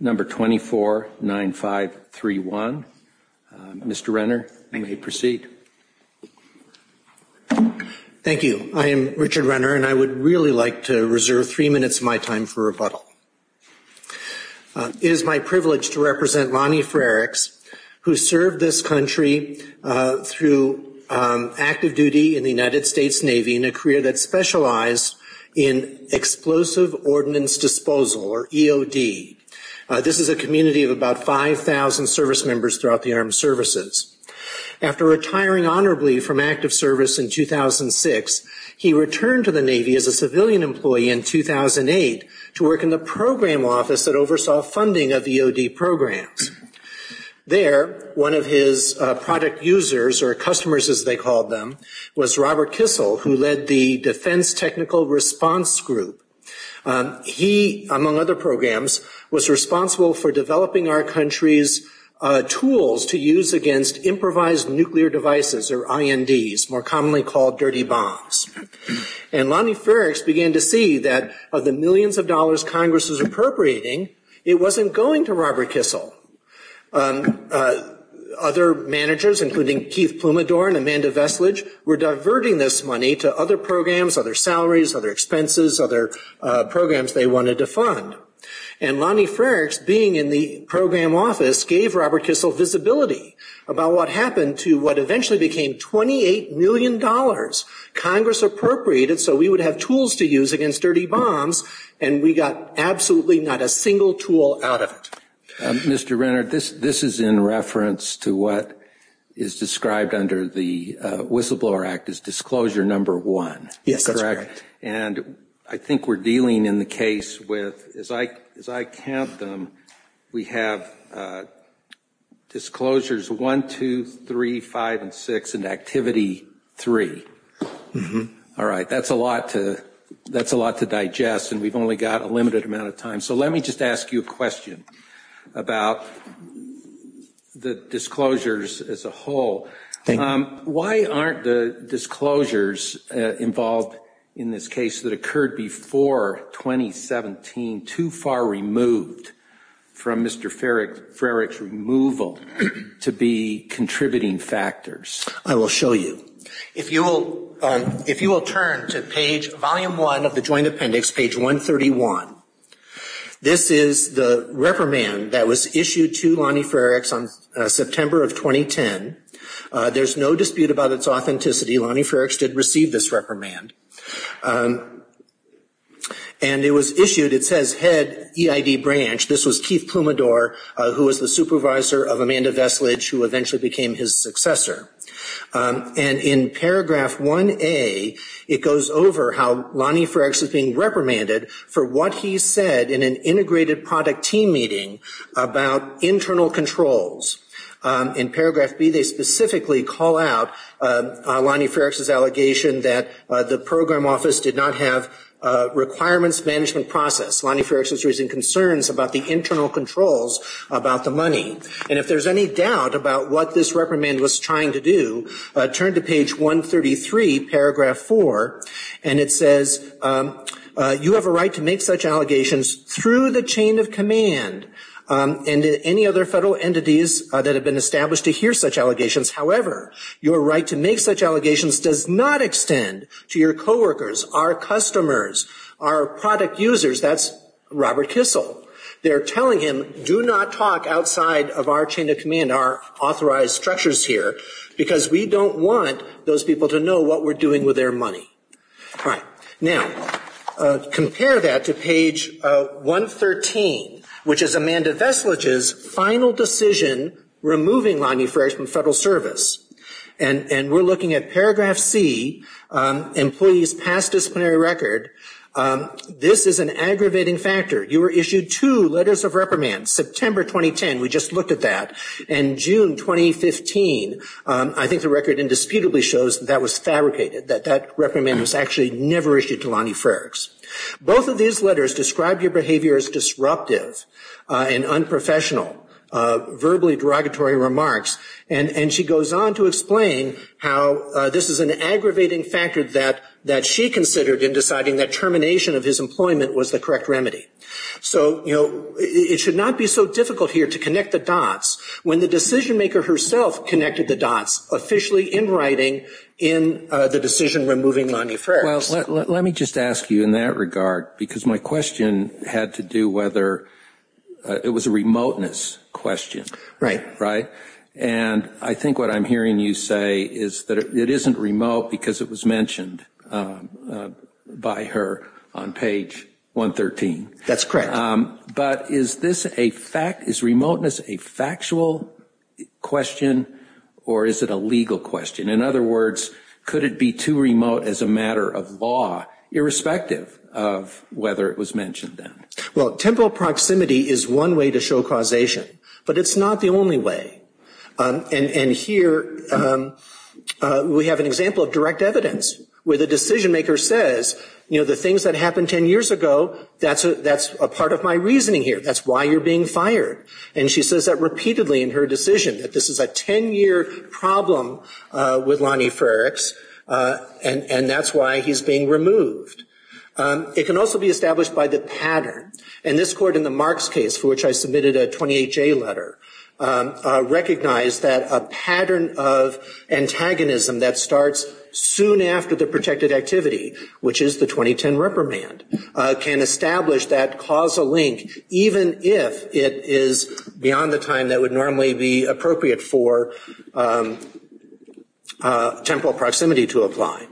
Number 249531. Mr. Renner, you may proceed. Thank you. I am Richard Renner, and I would really like to reserve three minutes of my time for rebuttal. It is my privilege to represent Lonnie Frericks, who served this country through active duty in the United States Navy in a career that specialized in Explosive Ordnance Disposal, or EOD. This is a community of about 5,000 service members throughout the armed services. After retiring honorably from active service in 2006, he returned to the Navy as a civilian employee in 2008 to work in the program office that oversaw funding of EOD programs. There, one of his product users, or customers as they called them, was Robert Kissel, who led the Defense Technical Response Group. He, among other programs, was responsible for developing our country's tools to use against improvised nuclear devices, or INDs, more commonly called dirty bombs. And Lonnie Frericks began to see that of the millions of dollars Congress was appropriating, it wasn't going to Robert Kissel. Other managers, including Keith Plumidor and Amanda Vestlage, were diverting this money to other programs, other salaries, other expenses, other programs they wanted to fund. And Lonnie Frericks, being in the program office, gave Robert Kissel visibility about what happened to what eventually became $28 million Congress appropriated so we would have tools to use against dirty bombs, and we got absolutely not a single tool out of it. Mr. Renner, this is in reference to what is described under the Whistleblower Act as Disclosure Number 1. Yes, that's correct. And I think we're dealing in the case with, as I count them, we have Disclosures 1, 2, 3, 5, and 6, and Activity 3. All right, that's a lot to digest, and we've only got a limited amount of time. So let me just ask you a question about the disclosures as a whole. Why aren't the disclosures involved in this case that occurred before 2017 too far removed from Mr. Frericks' removal to be contributing factors? I will show you. If you will turn to page, Volume 1 of the Joint Appendix, page 131, this is the reprimand that was issued to Lonnie Frericks on September of 2010. There's no dispute about its authenticity. Lonnie Frericks did receive this reprimand. And it was issued. It says, Head EID Branch. This was Keith Plumidor, who was the supervisor of Amanda Veslage, who eventually became his successor. And in paragraph 1A, it goes over how Lonnie Frericks is being reprimanded for what he said in an integrated product team meeting about internal controls. In paragraph B, they specifically call out Lonnie Frericks' allegation that the program office did not have requirements management process. Lonnie Frericks was raising concerns about the internal controls about the money. And if there's any doubt about what this reprimand was trying to do, turn to page 133, paragraph 4, and it says, you have a right to make such allegations through the chain of command and any other federal entities that have been established to hear such allegations. However, your right to make such allegations does not extend to your co-workers, our customers, our product users. That's Robert Kissel. They're telling him, do not talk outside of our chain of command, our authorized structures here, because we don't want those people to know what we're doing with their money. All right. Now, compare that to page 113, which is Amanda Veslage's final decision removing Lonnie Frericks from federal service. And we're looking at paragraph C, employee's past disciplinary record. This is an aggravating factor. You were issued two letters of reprimand. September 2010, we just looked at that. And June 2015, I think the record indisputably shows that that was fabricated, that that reprimand was actually never issued to Lonnie Frericks. Both of these letters describe your behavior as disruptive and unprofessional, verbally derogatory remarks. And she goes on to explain how this is an aggravating factor that she considered in deciding that termination of his employment was the correct remedy. So it should not be so difficult here to connect the dots. When the decision maker herself connected the dots officially in writing in the decision removing Lonnie Frericks. Let me just ask you in that regard, because my question had to do whether it was a remoteness question. Right. Right. And I think what I'm hearing you say is that it isn't remote because it was mentioned by her on page 113. That's correct. But is this a fact, is remoteness a factual question or is it a legal question? In other words, could it be too remote as a matter of law, irrespective of whether it was mentioned then? Well, temporal proximity is one way to show causation. But it's not the only way. And here we have an example of direct evidence where the decision maker says, you know, the things that happened 10 years ago, that's a part of my reasoning here. That's why you're being fired. And she says that repeatedly in her decision, that this is a 10-year problem with Lonnie Frericks and that's why he's being removed. It can also be established by the pattern. And this court in the Marks case, for which I submitted a 28-J letter, recognized that a pattern of antagonism that starts soon after the protected activity, which is the 2010 reprimand, can establish that causal link even if it is beyond the time that would normally be appropriate for temporal proximity to apply.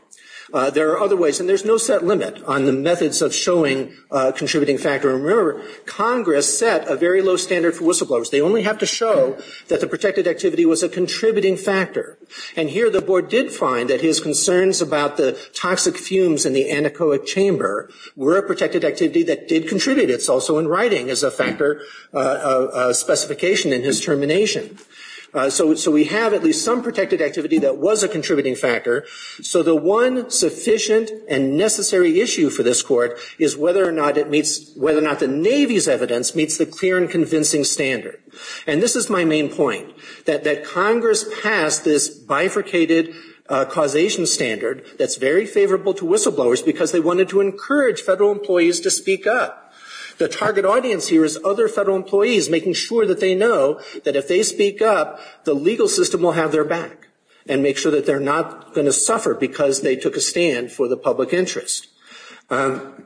There are other ways. And there's no set limit on the methods of showing a contributing factor. And remember, Congress set a very low standard for whistleblowers. They only have to show that the protected activity was a contributing factor. And here the board did find that his concerns about the toxic fumes in the anechoic chamber were a protected activity that did contribute. It's also in writing as a factor specification in his termination. So we have at least some protected activity that was a contributing factor. So the one sufficient and necessary issue for this court is whether or not the Navy's evidence meets the clear and convincing standard. And this is my main point, that Congress passed this bifurcated causation standard that's very favorable to whistleblowers because they wanted to encourage federal employees to speak up. The target audience here is other federal employees, making sure that they know that if they speak up, the legal system will have their back and make sure that they're not going to suffer because they took a stand for the public interest. And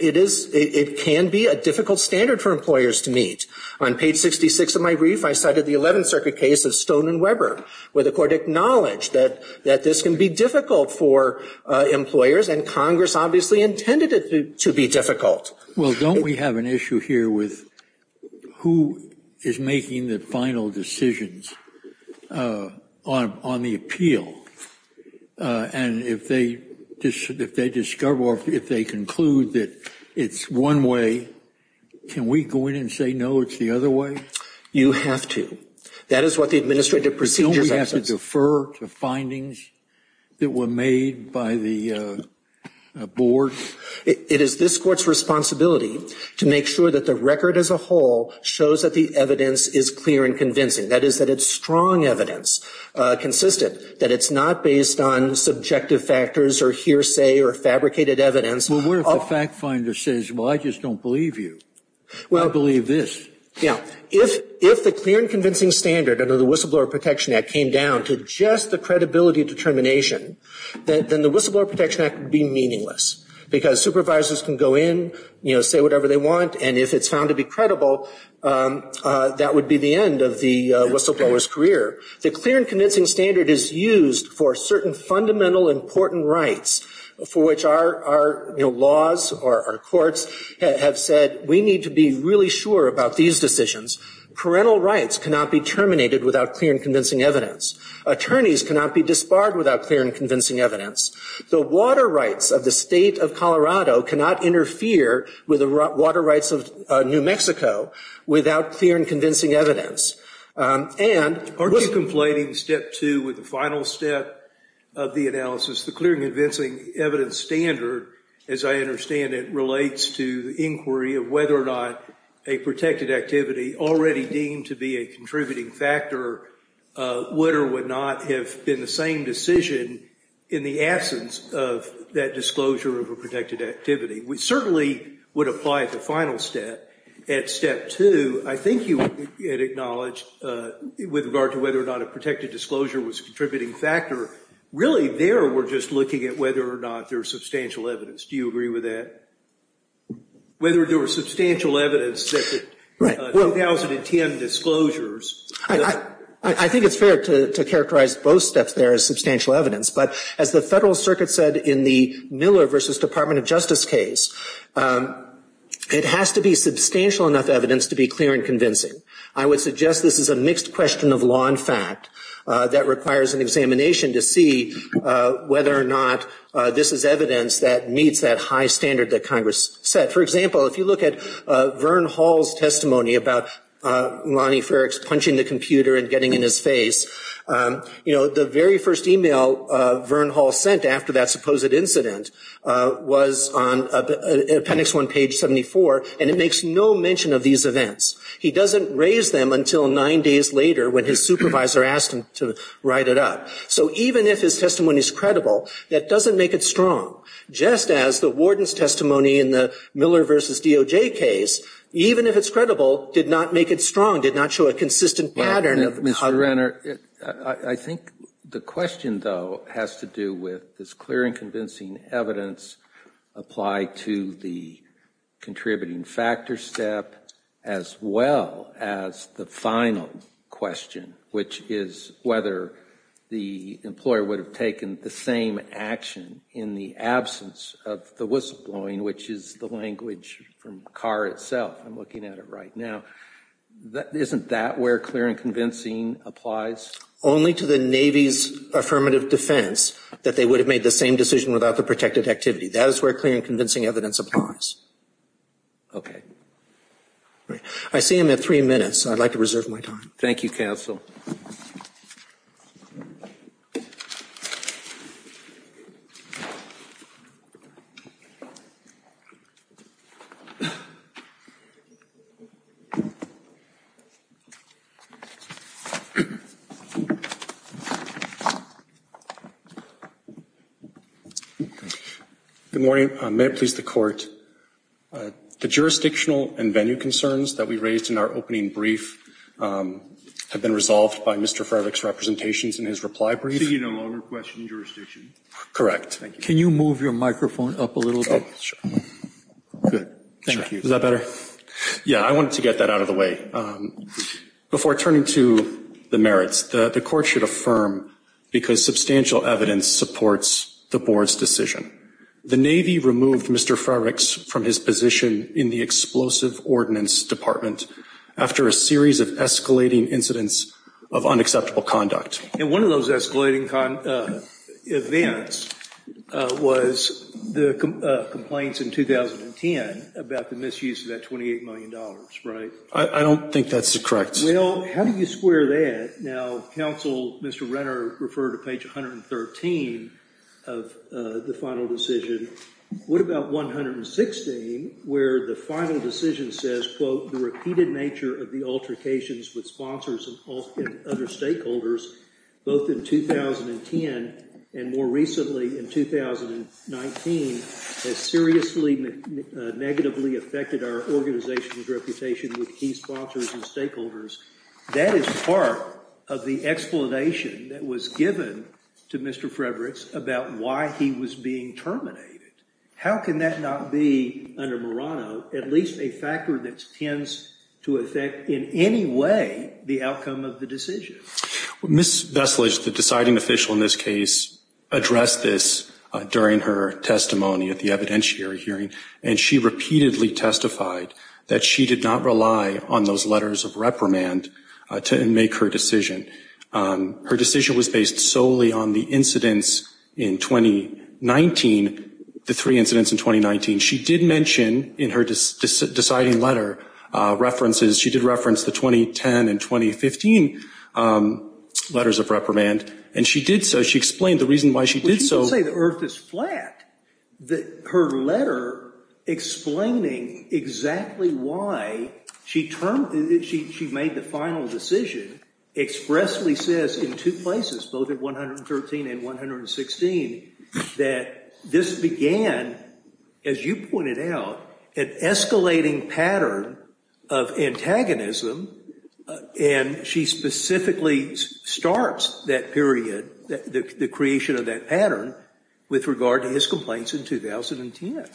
it is, it can be a difficult standard for employers to meet. On page 66 of my brief, I cited the 11th Circuit case of Stone and Weber, where the court acknowledged that this can be difficult for employers, and Congress obviously intended it to be difficult. Well, don't we have an issue here with who is making the final decisions on the appeal? And if they discover or if they conclude that it's one way, can we go in and say, no, it's the other way? You have to. That is what the administrative procedure says. To defer to findings that were made by the board? It is this court's responsibility to make sure that the record as a whole shows that the evidence is clear and convincing. That is, that it's strong evidence, consistent, that it's not based on subjective factors or hearsay or fabricated evidence. Well, what if the fact finder says, well, I just don't believe you? I believe this. Now, if the clear and convincing standard under the Whistleblower Protection Act came down to just the credibility determination, then the Whistleblower Protection Act would be meaningless, because supervisors can go in, say whatever they want, and if it's found to be credible, that would be the end of the whistleblower's career. The clear and convincing standard is used for certain fundamental important rights for which our laws or our courts have said, we need to be really sure about these decisions. Parental rights cannot be terminated without clear and convincing evidence. Attorneys cannot be disbarred without clear and convincing evidence. The water rights of the state of Colorado cannot interfere with the water rights of New Mexico without clear and convincing evidence. Aren't you complaining, step two, with the final step of the analysis, the clear and convincing evidence standard, as I understand it, relates to the inquiry of whether or not a protected activity already deemed to be a contributing factor would or would not have been the same decision in the absence of that disclosure of a protected activity. We certainly would apply the final step at step two. I think you had acknowledged with regard to whether or not a protected disclosure was a contributing factor. Really there, we're just looking at whether or not there's substantial evidence. Do you agree with that? Whether there was substantial evidence that the 2010 disclosures... I think it's fair to characterize both steps there as substantial evidence, but as the Federal Circuit said in the Miller v. Department of Justice case, it has to be substantial enough evidence to be clear and convincing. I would suggest this is a mixed question of law and fact that requires an examination to see whether or not this is evidence that meets that high standard that Congress set. For example, if you look at Vern Hall's testimony about Lonnie Ferricks punching the computer and getting in his face, you know, the very first email Vern Hall sent after that supposed incident was on appendix one, page 74, and it makes no mention of these events. He doesn't raise them until nine days later when his supervisor asked him to write it up. So even if his testimony is credible, that doesn't make it strong. Just as the warden's testimony in the Miller v. DOJ case, even if it's credible, did not make it strong, did not show a consistent pattern of... Mr. Renner, I think the question, though, has to do with this clear and convincing evidence applied to the contributing factor step as well as the final question, which is whether the employer would have taken the same action in the absence of the whistleblowing, which is the language from Carr itself. I'm looking at it right now. Isn't that where clear and convincing applies? Only to the Navy's affirmative defense that they would have made the same decision without the protected activity. That is where clear and convincing evidence applies. Okay. I see him at three minutes, and I'd like to reserve my time. Thank you, counsel. Good morning, may it please the court. The jurisdictional and venue concerns that we raised in our opening brief have been resolved by Mr. Frevick's representations in his reply brief. So you no longer question jurisdiction? Correct. Can you move your microphone up a little bit? Oh, sure. Good. Thank you. Is that better? Yeah, I wanted to get that out of the way. Before turning to the merits, the court should affirm, because substantial evidence supports the board's decision. The Navy removed Mr. Frevick's from his position in the Explosive Ordinance Department after a series of escalating incidents of unacceptable conduct. And one of those escalating events was the complaints in 2010 about the misuse of that $28 million, right? I don't think that's correct. Well, how do you square that? Now, counsel, Mr. Renner referred to page 113 of the final decision. What about 116, where the final decision says, quote, the repeated nature of the altercations with sponsors and other stakeholders, both in 2010 and more recently in 2019, has seriously negatively affected our organization's reputation with key sponsors and stakeholders. That is part of the explanation that was given to Mr. Frevick about why he was being terminated. How can that not be, under Murano, at least a factor that tends to affect in any way the outcome of the decision? Ms. Veslage, the deciding official in this case, addressed this during her testimony at the evidentiary hearing, and she repeatedly testified that she did not rely on those letters of reprimand to make her decision. Her decision was based solely on the incidents in 2019, the three incidents in 2019. She did mention in her deciding letter references, she did reference the 2010 and 2015 letters of reprimand, and she did so. She explained the reason why she did so. I'm not saying the earth is flat. Her letter explaining exactly why she made the final decision expressly says in two places, both in 113 and 116, that this began, as you pointed out, an escalating pattern of antagonism, and she specifically starts that period, the creation of that pattern, with regard to his complaints in 2010.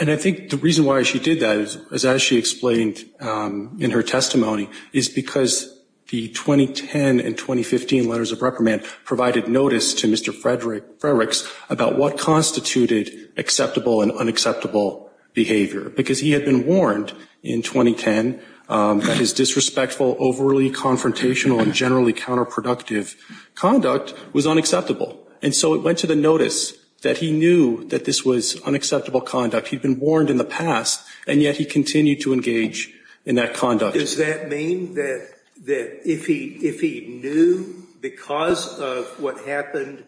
And I think the reason why she did that is, as she explained in her testimony, is because the 2010 and 2015 letters of reprimand provided notice to Mr. Frevick about what constituted acceptable and unacceptable behavior, because he had been warned in 2010 that his disrespectful, overly confrontational, and generally counterproductive conduct was unacceptable. And so it went to the notice that he knew that this was unacceptable conduct. He'd been warned in the past, and yet he continued to engage in that conduct. Does that mean that if he knew, because of what happened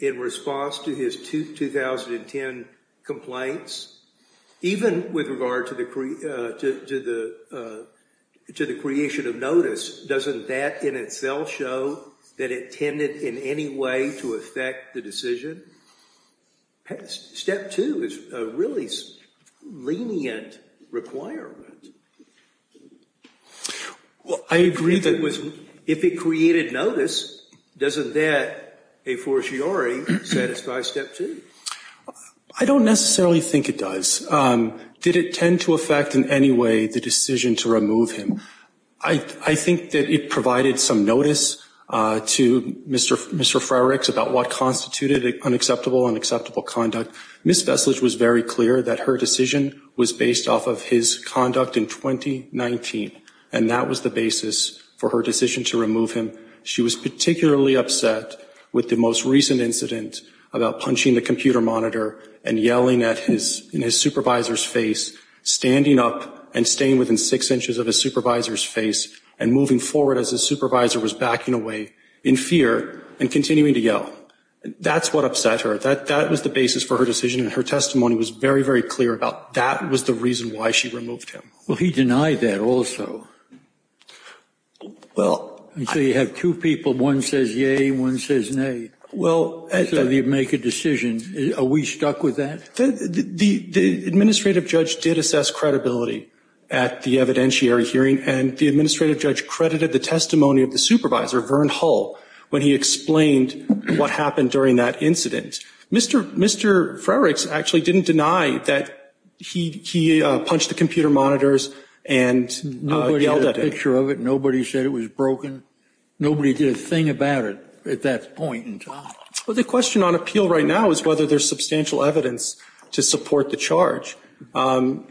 in response to his 2010 complaints, even with regard to the creation of notice, doesn't that in itself show that it tended in any way to affect the decision? I mean, step two is a really lenient requirement. Well, I agree that it was, if it created notice, doesn't that, a fortiori, satisfy step two? I don't necessarily think it does. Did it tend to affect in any way the decision to remove him? I think that it provided some notice to Mr. Frevick about what constituted unacceptable and acceptable conduct. Ms. Vestlage was very clear that her decision was based off of his conduct in 2019, and that was the basis for her decision to remove him. She was particularly upset with the most recent incident about punching the computer monitor and yelling at his, in his supervisor's face, standing up and staying within six inches of his supervisor's face and moving forward as his supervisor was backing away in fear and continuing to yell. That's what upset her. That was the basis for her decision, and her testimony was very, very clear about that was the reason why she removed him. Well, he denied that also. Well, so you have two people, one says yay, one says nay. Well, as you make a decision, are we stuck with that? The administrative judge did assess credibility at the evidentiary hearing, and the administrative judge credited the testimony of the supervisor, Vern Hull, when he explained what happened during that incident. Mr. Frevick actually didn't deny that he punched the computer monitors and yelled at him. Nobody had a picture of it. Nobody said it was broken. Nobody did a thing about it at that point in time. Well, the question on appeal right now is whether there's substantial evidence to support the charge. Well,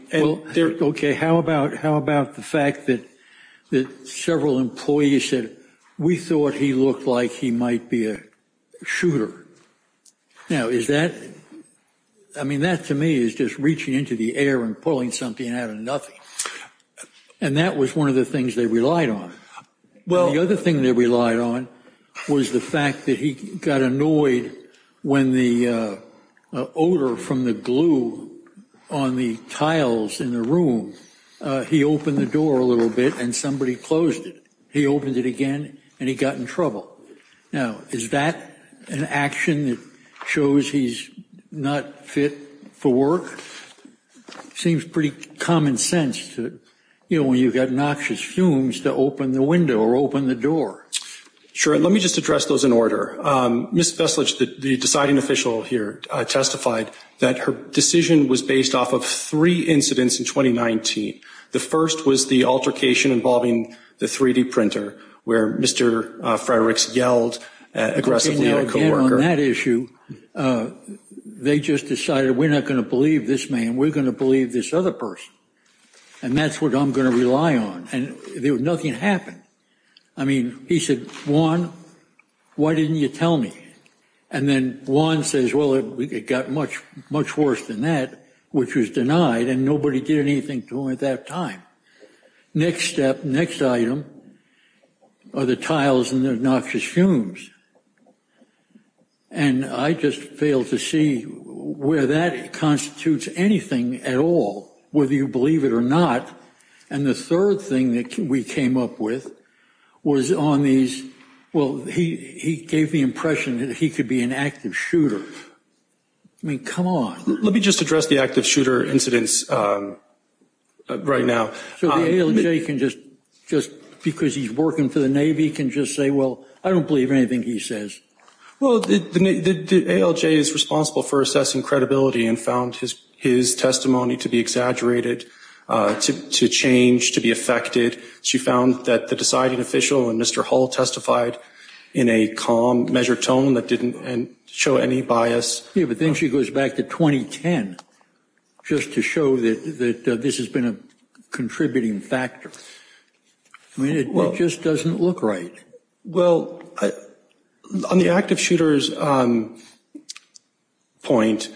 okay, how about, how about the fact that, that several employees said, we thought he looked like he might be a shooter. Now, is that, I mean, that, to me, is just reaching into the air and pulling something out of nothing. And that was one of the things they relied on. Well, the other thing they relied on was the fact that he got annoyed when the odor from the glue on the tiles in the room, he opened the door a little bit and somebody closed it. He opened it again and he got in trouble. Now, is that an action that shows he's not fit for work? Seems pretty common sense to, you know, when you've got noxious fumes to open the window or open the door. Sure. And let me just address those in order. Ms. Veselich, the deciding official here, testified that her decision was based off of three incidents in 2019. The first was the altercation involving the 3D printer where Mr. Fredericks yelled aggressively at a coworker. Again, on that issue, they just decided we're not going to believe this man, we're going to believe this other person. And that's what I'm going to rely on. And nothing happened. I mean, he said, Juan, why didn't you tell me? And then Juan says, well, it got much worse than that, which was denied, and nobody did anything to him at that time. Next step, next item, are the tiles and the noxious fumes. And I just failed to see where that constitutes anything at all, whether you believe it or not. And the third thing that we came up with was on these, well, he gave the impression that he could be an active shooter. I mean, come on. Let me just address the active shooter incidents right now. So the ALJ can just, just because he's working for the Navy, can just say, well, I don't believe anything he says. Well, the ALJ is responsible for assessing credibility and found his testimony to be exaggerated, to change, to be affected. She found that the deciding official and Mr. Hull testified in a calm, measured tone that didn't show any bias. Yeah, but then she goes back to 2010 just to show that this has been a contributing factor. I mean, it just doesn't look right. Well, on the active shooter's point,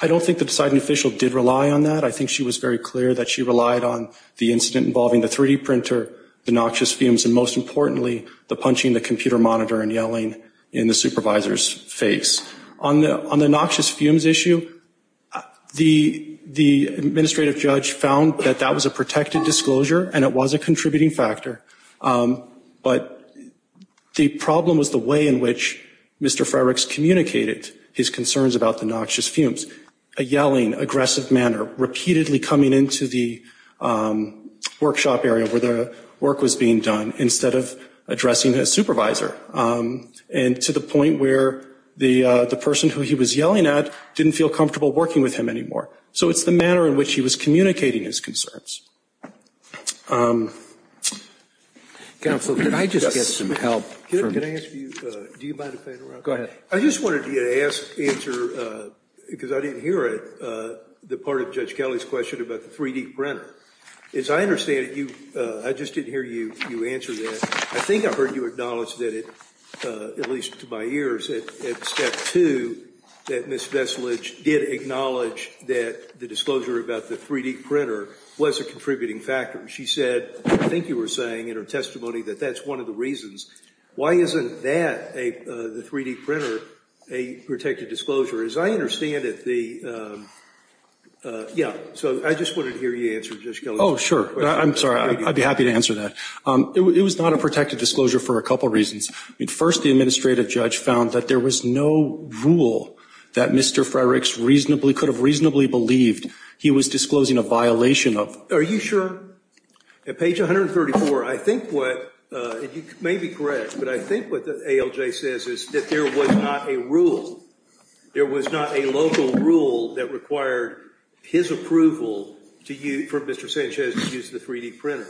I don't think the deciding official did rely on that. I think she was very clear that she relied on the incident involving the 3D printer, the noxious fumes, and most importantly, the punching the computer monitor and yelling in the supervisor's face. On the noxious fumes issue, the administrative judge found that that was a protected disclosure and it was a contributing factor. But the problem was the way in which Mr. Frerichs communicated his concerns about the noxious fumes. A yelling, aggressive manner, repeatedly coming into the workshop area where the work was being done, instead of addressing his supervisor, and to the point where the person who he was yelling at didn't feel comfortable working with him anymore. So it's the manner in which he was communicating his concerns. Counsel, can I just get some help from... Can I ask you... Do you mind if I interrupt? Go ahead. I just wanted to get an answer, because I didn't hear it, the part of Judge Kelly's question about the 3D printer. As I understand it, I just didn't hear you answer that. I think I heard you acknowledge that, at least to my ears, at step two, that Ms. Veselich did acknowledge that the disclosure about the 3D printer was a contributing factor. She said, I think you were saying in her testimony, that that's one of the reasons. Why isn't that, the 3D printer, a protected disclosure? As I understand it, the... Yeah. So I just wanted to hear you answer Judge Kelly's question. Oh, sure. I'm sorry. I'd be happy to answer that. It was not a protected disclosure for a couple of reasons. First, the administrative judge found that there was no rule that Mr. Freireichs reasonably could have reasonably believed he was disclosing a violation of. Are you sure? At page 134, I think what, and you may be correct, but I think what the ALJ says is that there was not a rule. There was not a local rule that required his approval for Mr. Sanchez to use the 3D printer.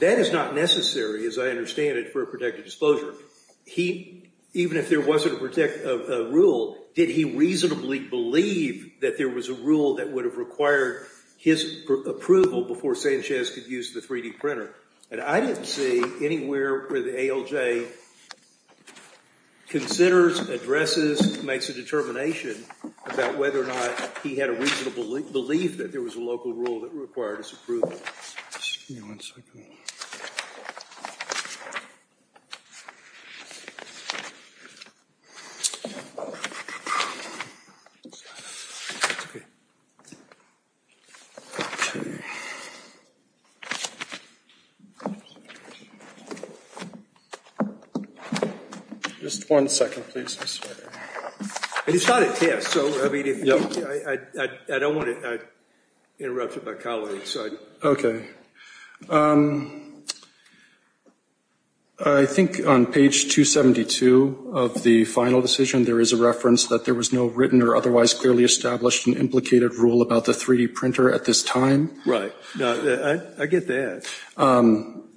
That is not necessary, as I understand it, for a protected disclosure. Even if there wasn't a rule, did he reasonably believe that there was a rule that would have required his approval before Sanchez could use the 3D printer? And I didn't see anywhere where the ALJ considers, addresses, makes a determination about whether or not he had a reasonable belief that there was a local rule that required his approval. Excuse me one second. It's okay. Okay. Just one second, please. It's not a test, so I don't want to interrupt with my colleagues. Okay. I think on page 272 of the final decision, there is a reference that there was no written or otherwise clearly established and implicated rule about the 3D printer at this time. Right. I get that. To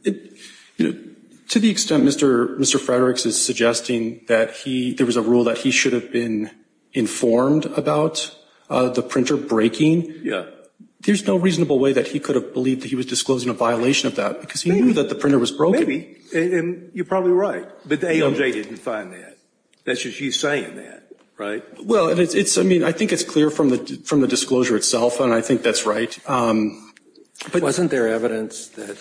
the extent Mr. Fredericks is suggesting that there was a rule that he should have been informed about the printer breaking, there's no reasonable way that he could have believed that he was disclosing a violation of that, because he knew that the printer was broken. And you're probably right. But the ALJ didn't find that. That's just you saying that. Right? Well, I think it's clear from the disclosure itself, and I think that's right. Wasn't there evidence that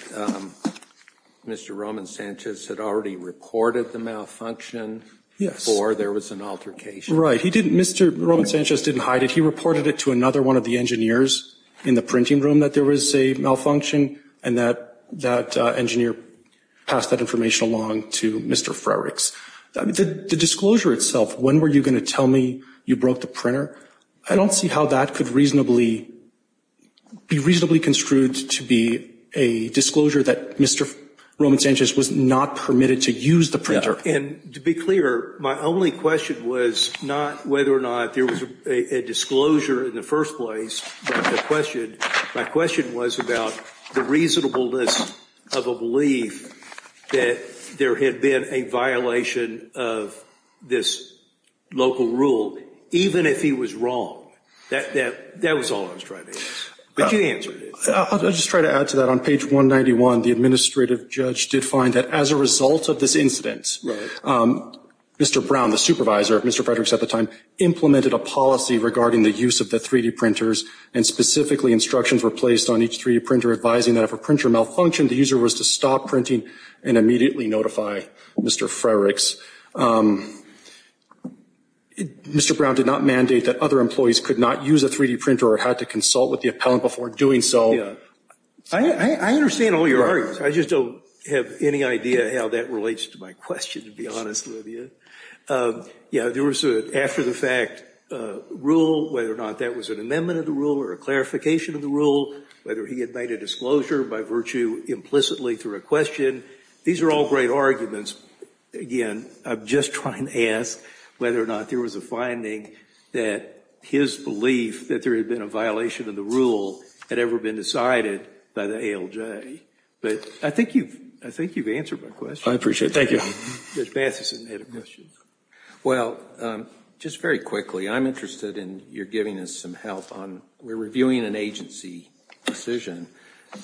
Mr. Roman Sanchez had already reported the malfunction before there was an altercation? Mr. Roman Sanchez didn't hide it. He reported it to another one of the engineers in the printing room that there was a malfunction, and that engineer passed that information along to Mr. Fredericks. The disclosure itself, when were you going to tell me you broke the printer, I don't see how that could be reasonably construed to be a disclosure that Mr. Roman Sanchez was not permitted to use the printer. And to be clear, my only question was not whether or not there was a disclosure in the first place. My question was about the reasonableness of a belief that there had been a violation of this local rule, even if he was wrong. That was all I was trying to answer. But you answered it. I'll just try to add to that. On page 191, the administrative judge did find that as a result of this incident, Mr. Brown, the supervisor of Mr. Fredericks at the time, implemented a policy regarding the use of the 3D printers, and specifically instructions were placed on each 3D printer advising that if a printer malfunctioned, the user was to stop printing and immediately notify Mr. Fredericks. Mr. Brown did not mandate that other employees could not use a 3D printer or had to consult with the appellant before doing so. I understand all your arguments. I just don't have any idea how that relates to my question, to be honest with you. Yeah, there was an after-the-fact rule, whether or not that was an amendment of the rule or a clarification of the rule, whether he had made a disclosure by virtue implicitly through a question. And these are all great arguments. Again, I'm just trying to ask whether or not there was a finding that his belief that there had been a violation of the rule had ever been decided by the ALJ. But I think you've answered my question. I appreciate it. Thank you. Judge Matheson had a question. Well, just very quickly, I'm interested in your giving us some help on we're reviewing an agency decision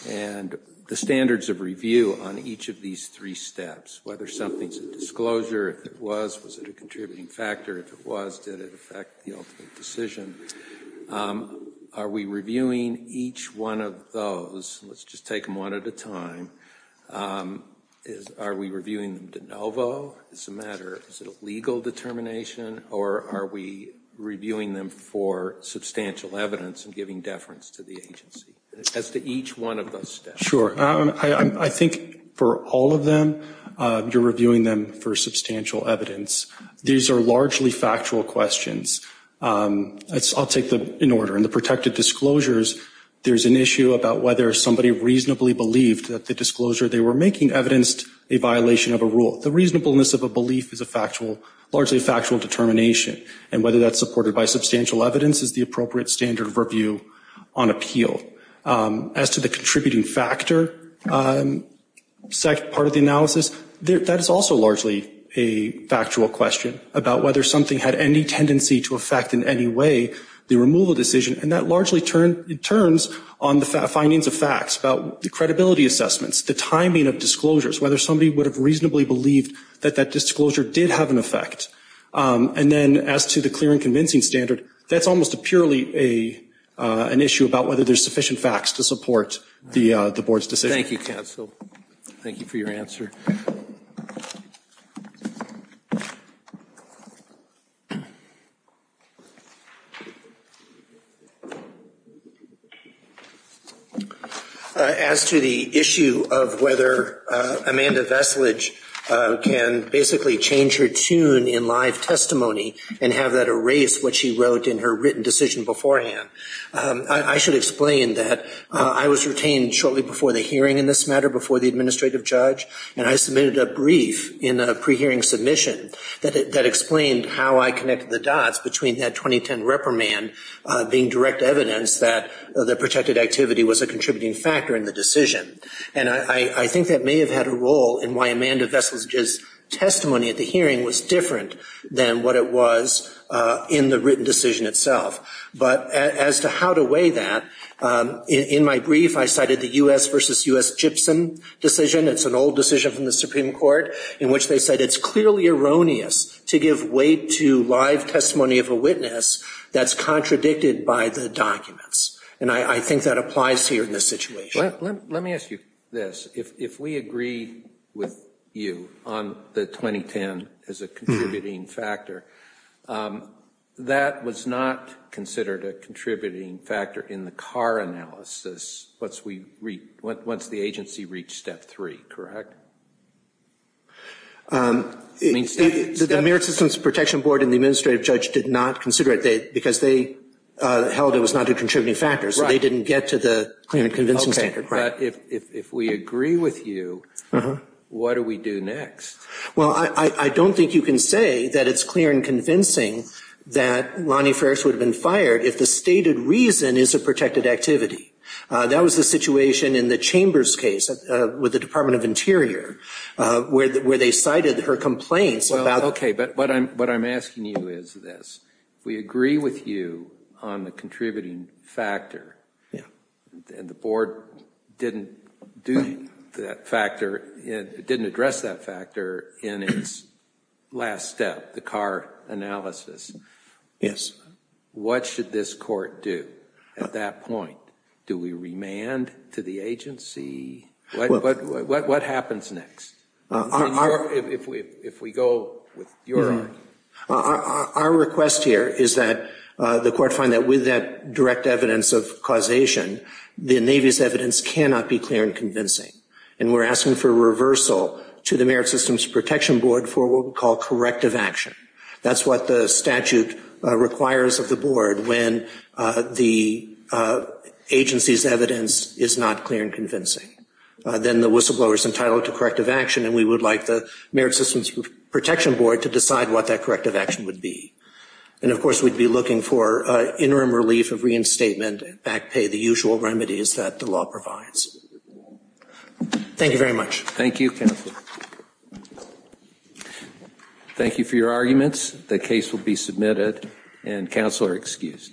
and the standards of review on each of these three steps, whether something's a disclosure, if it was, was it a contributing factor? If it was, did it affect the ultimate decision? Are we reviewing each one of those? Let's just take them one at a time. Are we reviewing them de novo as a matter of legal determination, or are we reviewing them for substantial evidence and giving deference to the agency as to each one of those steps? I think for all of them, you're reviewing them for substantial evidence. These are largely factual questions. I'll take them in order. In the protected disclosures, there's an issue about whether somebody reasonably believed that the disclosure they were making evidenced a violation of a rule. The reasonableness of a belief is largely a factual determination, and whether that's supported by substantial evidence is the appropriate standard of review on appeal. As to the contributing factor part of the analysis, that is also largely a factual question about whether something had any tendency to affect in any way the removal decision, and that largely turns on the findings of facts about the credibility assessments, the timing of disclosures, whether somebody would have reasonably believed that that disclosure did have an effect. And then as to the clear and convincing standard, that's almost purely an issue about whether there's sufficient facts to support the board's decision. Thank you, counsel. Thank you for your answer. As to the issue of whether Amanda Veslage can basically change her tune in live testimony and have that erase what she wrote in her written decision beforehand, I should explain that I was retained shortly before the hearing in this matter, before the administrative judge, and I submitted a brief in a pre-hearing submission that explained how I connected the dots between that 2010 reprimand being direct evidence that the protected activity was a contributing factor in the decision. And I think that may have had a role in why Amanda Veslage's testimony at the hearing was different than what it was in the written decision itself. But as to how to weigh that, in my brief I cited the U.S. versus U.S. Gibson decision. It's an old decision from the Supreme Court in which they said it's clearly erroneous to give weight to live testimony of a witness that's contradicted by the documents. And I think that applies here in this situation. Let me ask you this. If we agree with you on the 2010 as a contributing factor, that was not considered a contributing factor in the Carr analysis once the agency reached step three, correct? The American Citizens Protection Board and the administrative judge did not consider it because they held it was not a contributing factor. So they didn't get to the claimant convincing standard. Okay. But if we agree with you, what do we do next? Well, I don't think you can say that it's clear and convincing that Lonnie Ferris would have been fired if the stated reason is a protected activity. That was the situation in the Chambers case with the Department of Interior where they cited her complaints about... Okay. But what I'm asking you is this. If we agree with you on the contributing factor and the board didn't do that factor, didn't address that factor in its last step, the Carr analysis, what should this court do at that point? Do we remand to the agency? What happens next? If we go with your... Our request here is that the court find that with that direct evidence of causation, the Navy's evidence cannot be clear and convincing. And we're asking for reversal to the Merit Systems Protection Board for what we call corrective action. That's what the statute requires of the board when the agency's evidence is not clear and convincing. Then the whistleblower's entitled to corrective action and we would like the Merit Systems Protection Board to decide what that corrective action would be. And of course, we'd be looking for interim relief of reinstatement and back pay, the usual remedies that the law provides. Thank you very much. Thank you, Counselor. Thank you for your arguments. The case will be submitted and Counselor excused. Thank you.